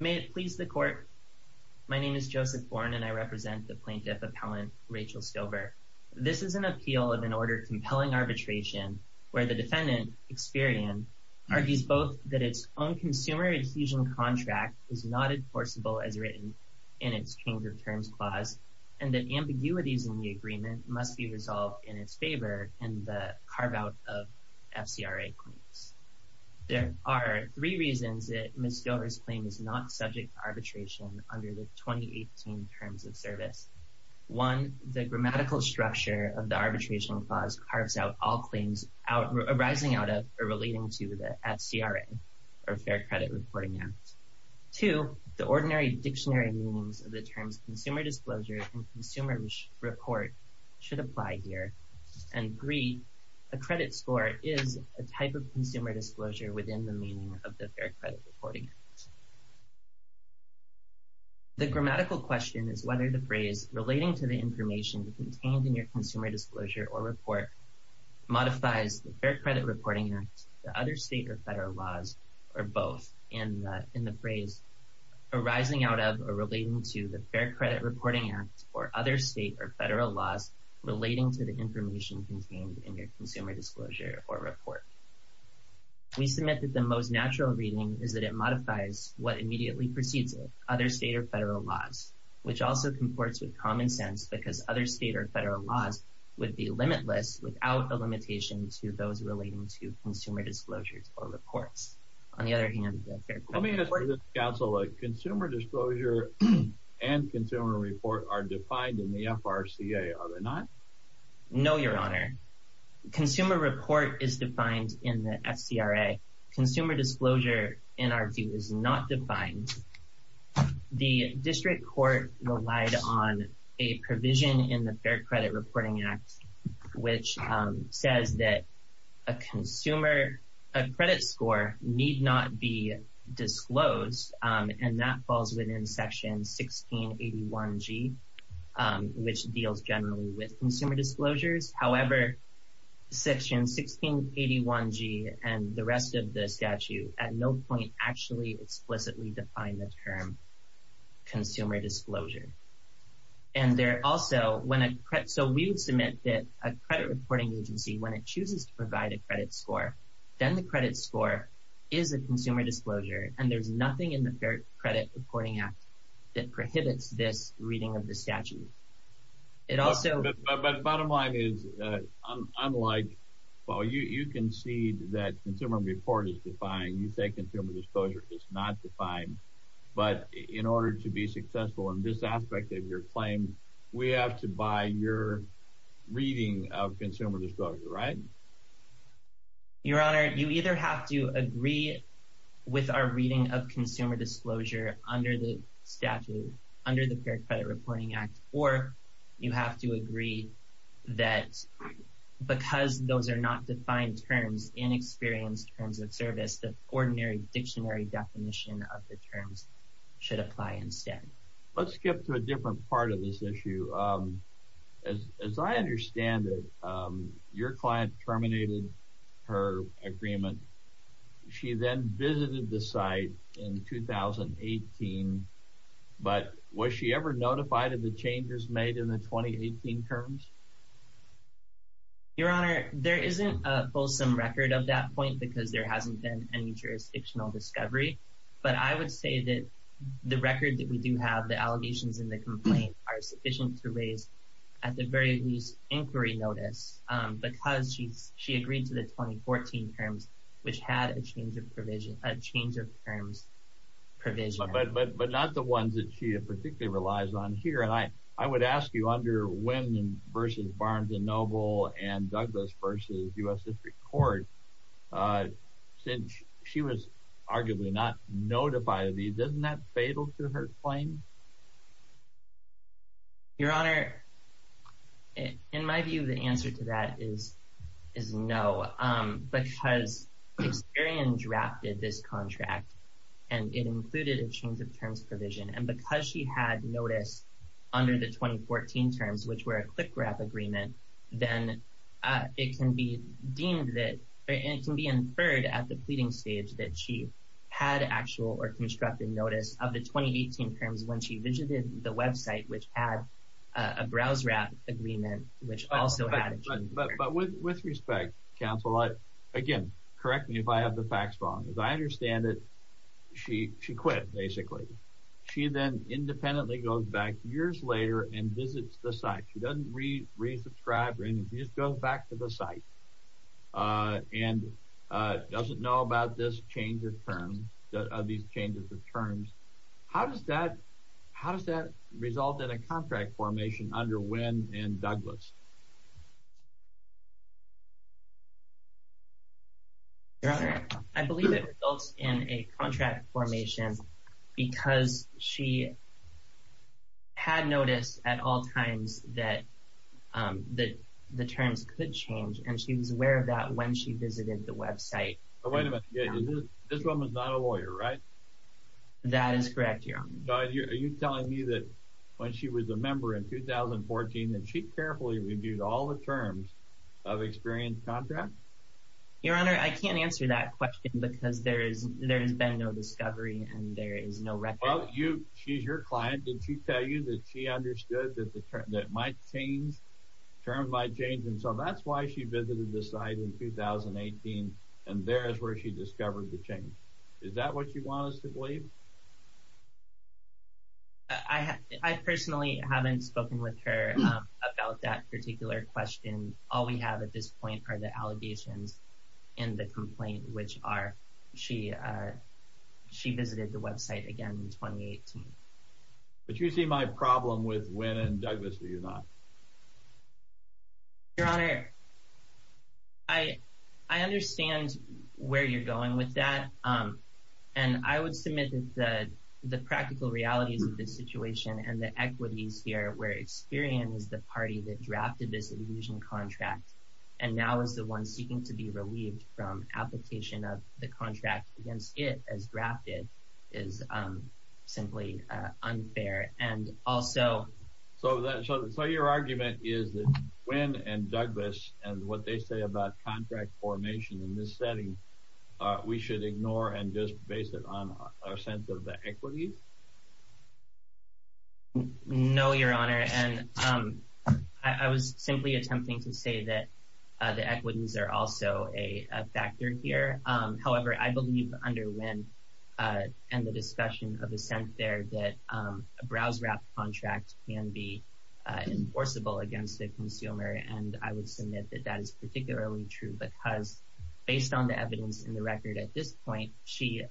May it please the Court, my name is Joseph Bourne and I represent the Plaintiff Appellant Rachel Stover. This is an appeal of an order compelling arbitration where the defendant, Experian, argues both that its own consumer adhesion contract is not enforceable as written in its change-of-terms clause and that ambiguities in the agreement must be resolved in its favor and the carve-out of FCRA claims. There are three reasons that Ms. Stover's claim is not subject to arbitration under the 2018 Terms of Service. One, the grammatical structure of the arbitration clause carves out all claims arising out of or relating to the FCRA or Fair Credit Reporting Act. Two, the ordinary dictionary meanings of the terms consumer disclosure and consumer report should apply here, and three, a credit score is a type of consumer disclosure within the meaning of the Fair Credit Reporting Act. The grammatical question is whether the phrase relating to the information contained in your consumer disclosure or report modifies the Fair Credit Reporting Act, the other state or federal laws, or both in the phrase arising out of or relating to the Fair Credit Reporting Act or other state or federal laws relating to the information contained in your consumer disclosure or report. We submit that the most natural reading is that it modifies what immediately precedes it, other state or federal laws, which also comports with common sense because other state or federal laws would be limitless without a limitation to those relating to consumer disclosures or reports. On the other hand, the Fair Credit Reporting Act... Let me ask you this, Counsel, a consumer disclosure and consumer report are defined in the FRCA, are they not? No, Your Honor. Consumer report is defined in the FCRA. Consumer disclosure, in our view, is not defined. The district court relied on a provision in the Fair Credit Reporting Act which says that a credit score need not be disclosed and that falls within Section 1681G, which deals generally with consumer disclosures. However, Section 1681G and the rest of the statute at no point actually explicitly define the term consumer disclosure. And there also... So we would submit that a credit reporting agency, when it chooses to provide a credit score, then the credit score is a consumer disclosure and there's nothing in the Fair Credit Reporting Act that prohibits this reading of the statute. It also... But bottom line is, unlike, well, you concede that consumer report is defined, you say consumer disclosure is not defined, but in order to be successful in this aspect of your claim, we have to buy your reading of consumer disclosure, right? Your Honor, you either have to agree with our reading of consumer disclosure under the statute, under the Fair Credit Reporting Act, or you have to agree that because those are not defined terms, inexperienced terms of service, the ordinary dictionary definition of the terms should apply instead. Let's skip to a different part of this issue. As I understand it, your client terminated her agreement. She then visited the site in 2018, but was she ever notified of the changes made in the 2018 terms? Your Honor, there isn't a fulsome record of that point because there hasn't been any jurisdictional discovery, but I would say that the record that we do have, the allegations in the complaint are sufficient to raise at the very least inquiry notice because she agreed to the 2014 terms, which had a change of provision, a change of terms provision. But not the ones that she particularly relies on here, and I would ask you under Wyndham v. Barnes & Noble and Douglas v. U.S. District Court, since she was arguably not notified of these, isn't that fatal to her claim? Your Honor, in my view, the answer to that is no, because Experian drafted this contract and it included a change of terms provision, and because she had notice under the 2014 terms, which were a quick wrap agreement, then it can be inferred at the pleading stage that she had actual or constructive notice of the 2018 terms when she visited the website, which had a browse wrap agreement, which also had a change of terms. But with respect, counsel, again, correct me if I have the facts wrong. As I understand it, she quit, basically. She then independently goes back years later and visits the site. She doesn't resubscribe or anything. She just goes back to the site and doesn't know about these changes of terms. How does that result in a contract formation under Wyndham v. Douglas? Your Honor, I believe it results in a contract formation because she had notice at all times that the terms could change, and she was aware of that when she visited the website. Wait a minute. This woman's not a lawyer, right? That is correct, Your Honor. Are you telling me that when she was a member in 2014 and she carefully reviewed all the terms of experienced contracts? Your Honor, I can't answer that question because there has been no discovery, and there is no record. Well, she's your client. Did she tell you that she understood that terms might change? And so that's why she visited the site in 2018, and there is where she discovered the change. Is that what you want us to believe? I personally haven't spoken with her about that particular question. All we have at this point are the allegations and the complaint, which are she visited the website again in 2018. But you see my problem with Wyndham v. Douglas, do you not? Your Honor, I understand where you're going with that, and I would submit that the practical realities of the situation and the equities here where Experian is the party that drafted this illusion contract and now is the one seeking to be relieved from application of the contract against it as drafted is simply unfair. So your argument is that Wyndham v. Douglas and what they say about contract formation in this setting, we should ignore and just base it on our sense of the equities? No, Your Honor, and I was simply attempting to say that the equities are also a factor here. However, I believe under Wynn and the discussion of assent there that a browse-wrap contract can be enforceable against a consumer, and I would submit that that is particularly true because based on the evidence in the record at this point, she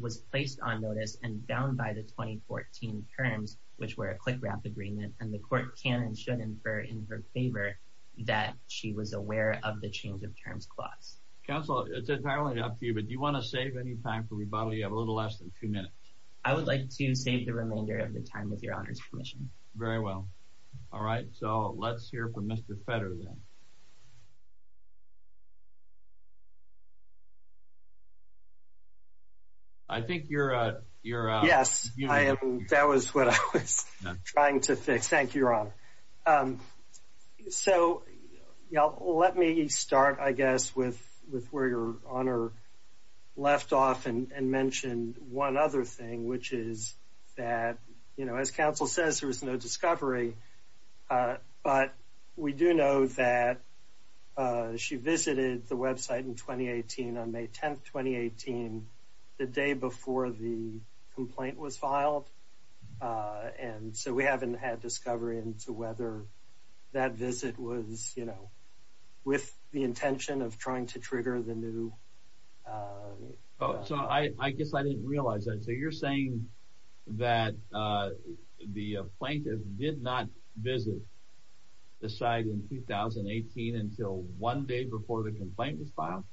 was placed on notice and bound by the 2014 terms, which were a click-wrap agreement, and the court can and should infer in her favor that she was aware of the change of terms clause. Counsel, it's entirely up to you, but do you want to save any time for rebuttal? You have a little less than two minutes. I would like to save the remainder of the time with Your Honor's permission. Very well. All right, so let's hear from Mr. Fetter then. I think you're… Yes, that was what I was trying to fix. Thank you, Your Honor. So, let me start, I guess, with where Your Honor left off and mentioned one other thing, which is that, as counsel says, there was no discovery, but we do know that she visited the website in 2018, on May 10, 2018, the day before the complaint was filed, and so we haven't had discovery as to whether that visit was, you know, with the intention of trying to trigger the new… So, I guess I didn't realize that. So, you're saying that the plaintiff did not visit the site in 2018 until one day before the complaint was filed?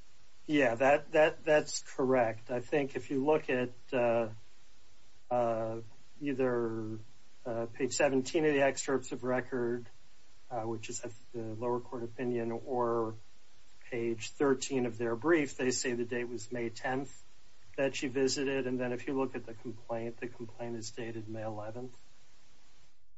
Yeah, that's correct. I think if you look at either page 17 of the excerpts of record, which is the lower court opinion, or page 13 of their brief, they say the date was May 10th that she visited, and then if you look at the complaint, the complaint is dated May 11th.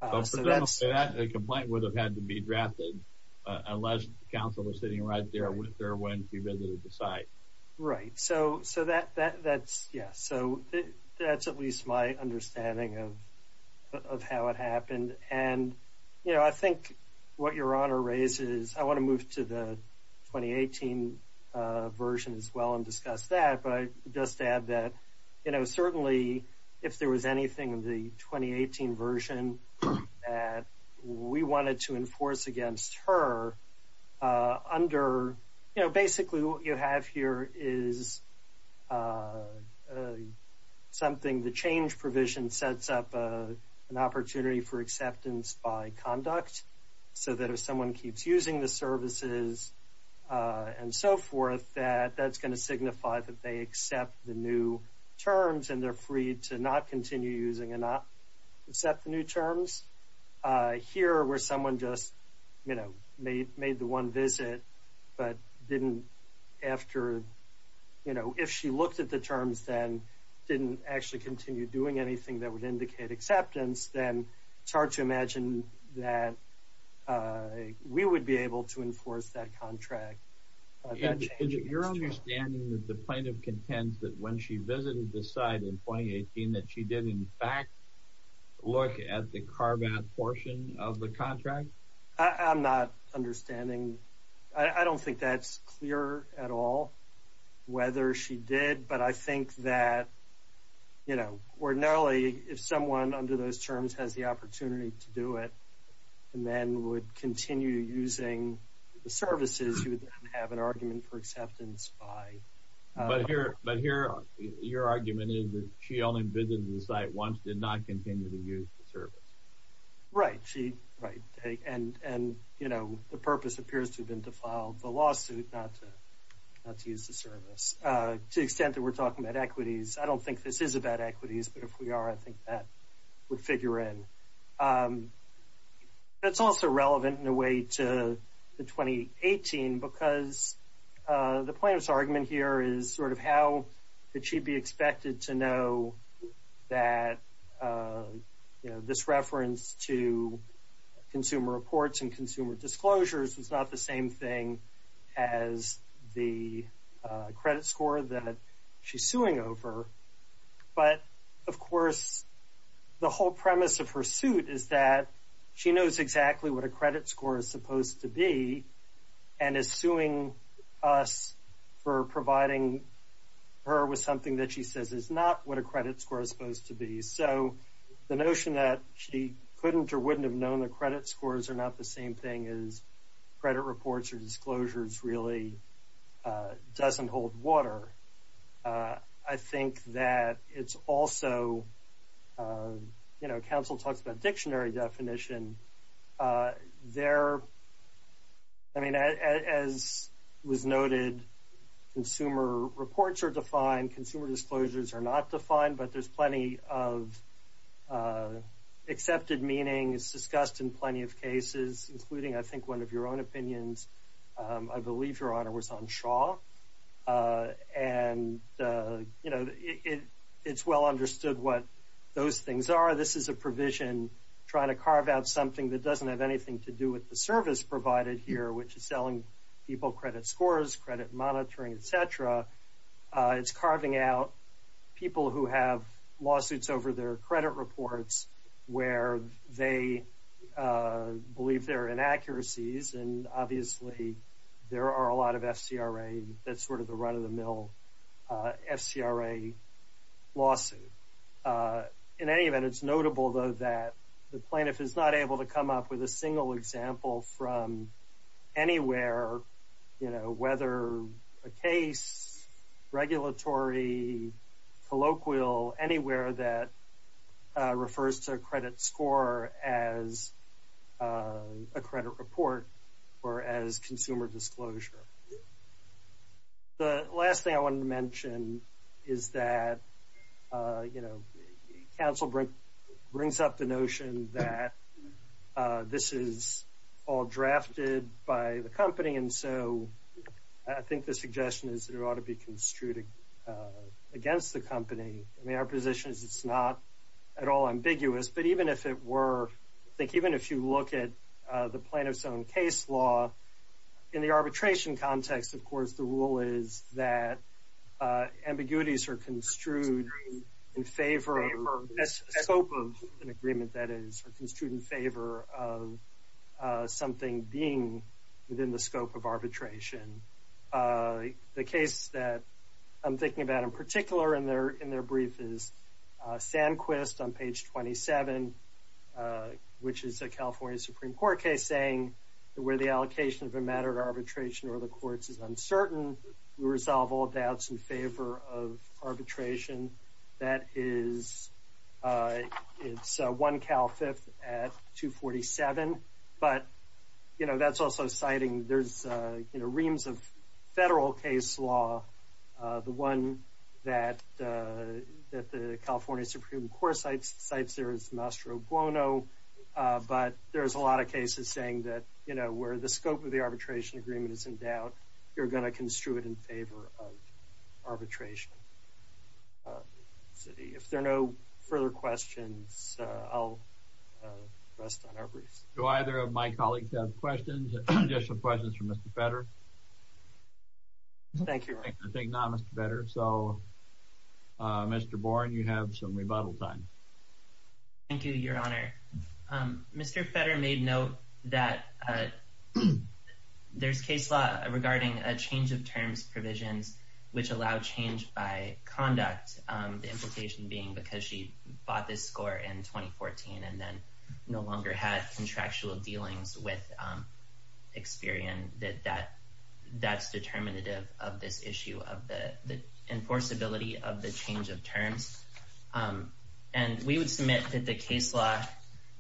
So, that's… I don't say that. The complaint would have had to be drafted unless counsel was sitting right there when she visited the site. Right. So, that's… Yeah. So, that's at least my understanding of how it happened. And, you know, I think what Your Honor raises… I want to move to the 2018 version as well and discuss that, but just to add that, you know, certainly, if there was anything in the 2018 version that we wanted to enforce against her under… You know, basically, what you have here is something… The change provision sets up an opportunity for acceptance by conduct, so that if someone keeps using the services and so forth, that that's going to signify that they accept the new terms and they're free to not continue using and not accept the new terms. Here, where someone just, you know, made the one visit but didn't… After, you know, if she looked at the terms and didn't actually continue doing anything that would indicate acceptance, then it's hard to imagine that we would be able to enforce that contract. Your understanding is that the plaintiff contends that when she visited the site in 2018, that she did, in fact, look at the CARBAT portion of the contract? I'm not understanding. I don't think that's clear at all whether she did, but I think that, you know, ordinarily, if someone under those terms has the opportunity to do it and then would continue using the services, you would have an argument for acceptance by… But here, your argument is that she only visited the site once, did not continue to use the service. Right. Right. And, you know, the purpose appears to have been to file the lawsuit, not to use the service. To the extent that we're talking about equities, I don't think this is about equities, but if we are, I think that would figure in. That's also relevant, in a way, to the 2018 because the plaintiff's argument here is sort of how could she be expected to know that, you know, this reference to consumer reports and consumer disclosures is not the same thing as the credit score that she's suing over. But, of course, the whole premise of her suit is that she knows exactly what a credit score is supposed to be and is suing us for providing her with something that she says is not what a credit score is supposed to be. So the notion that she couldn't or wouldn't have known the credit scores are not the same thing as credit reports or disclosures really doesn't hold water. I think that it's also, you know, counsel talks about dictionary definition. I mean, as was noted, consumer reports are defined, consumer disclosures are not defined, but there's plenty of accepted meanings discussed in plenty of cases, including, I think, one of your own opinions. I believe your honor was on Shaw. And, you know, it's well understood what those things are. This is a provision trying to carve out something that doesn't have anything to do with the service provided here, which is selling people credit scores, credit monitoring, et cetera. It's carving out people who have lawsuits over their credit reports where they believe there are inaccuracies, and obviously there are a lot of FCRA, that's sort of the run-of-the-mill FCRA lawsuit. In any event, it's notable, though, that the plaintiff is not able to come up with a single example from anywhere, you know, whether a case, regulatory, colloquial, anywhere that could be a credit report or as consumer disclosure. The last thing I wanted to mention is that, you know, counsel brings up the notion that this is all drafted by the company, and so I think the suggestion is it ought to be construed against the company. I mean, our position is it's not at all ambiguous, but even if it were, I think even if you look at the plaintiff's own case law, in the arbitration context, of course, the rule is that ambiguities are construed in favor of, scope of an agreement, that is, are construed in favor of something being within the scope of arbitration. The case that I'm thinking about in particular in their brief is Sanquist on page 27, which is a California Supreme Court case saying where the allocation of a matter of arbitration or the courts is uncertain, we resolve all doubts in favor of arbitration. That is, it's 1 Cal 5th at 247. But, you know, that's also citing, there's, you know, reams of federal case law. The one that the California Supreme Court cites there is Mastro Buono, but there's a lot of cases saying that, you know, where the scope of the arbitration agreement is in doubt, you're going to construe it in favor of arbitration. If there are no further questions, I'll rest on our briefs. Do either of my colleagues have questions, additional questions for Mr. Fetter? Thank you. I think not, Mr. Fetter. So, Mr. Boren, you have some rebuttal time. Thank you, Your Honor. Mr. Fetter made note that there's case law regarding a change of terms provisions which allow change by conduct, the implication being because she bought this score in 2014 and then no longer had contractual dealings with Experian, that that's determinative of this issue of the enforceability of the change of terms. And we would submit that the case law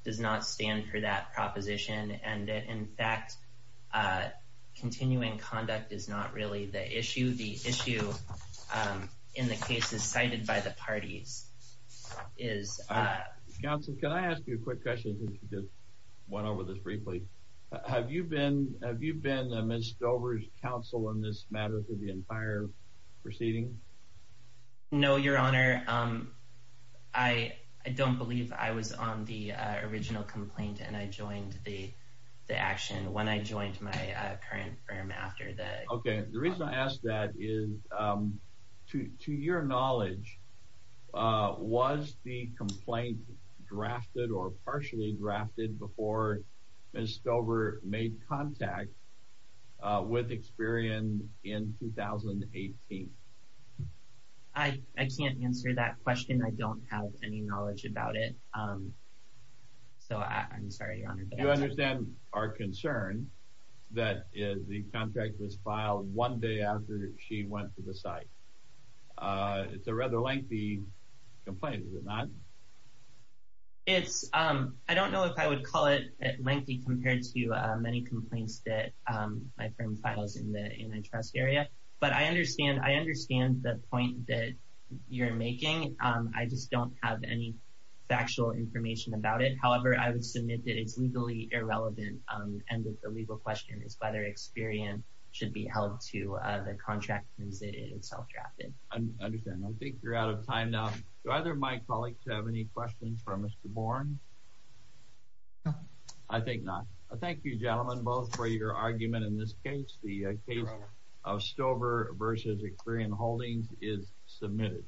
does not stand for that proposition and that, in fact, continuing conduct is not really the issue. The issue in the case is cited by the parties. Counsel, can I ask you a quick question since we just went over this briefly? Have you been Ms. Dover's counsel in this matter for the entire proceeding? No, Your Honor. I don't believe I was on the original complaint and I joined the action when I joined my current firm after that. Okay. The reason I ask that is, to your knowledge, was the complaint drafted or partially drafted before Ms. Dover made contact with Experian in 2018? I can't answer that question. I don't have any knowledge about it. So, I'm sorry, Your Honor. Do you understand our concern that the contract was filed one day after she went to the site? It's a rather lengthy complaint, is it not? I don't know if I would call it lengthy compared to many complaints that my firm files in the antitrust area. But I understand the point that you're making. I just don't have any factual information about it. However, I would submit that it's legally irrelevant and that the legal question is whether Experian should be held to the contract since it is self-drafted. I understand. I think you're out of time now. Do either of my colleagues have any questions for Mr. Bourne? No. I think not. Thank you, gentlemen, both, for your argument in this case. The case of Stover v. Experian Holdings is submitted.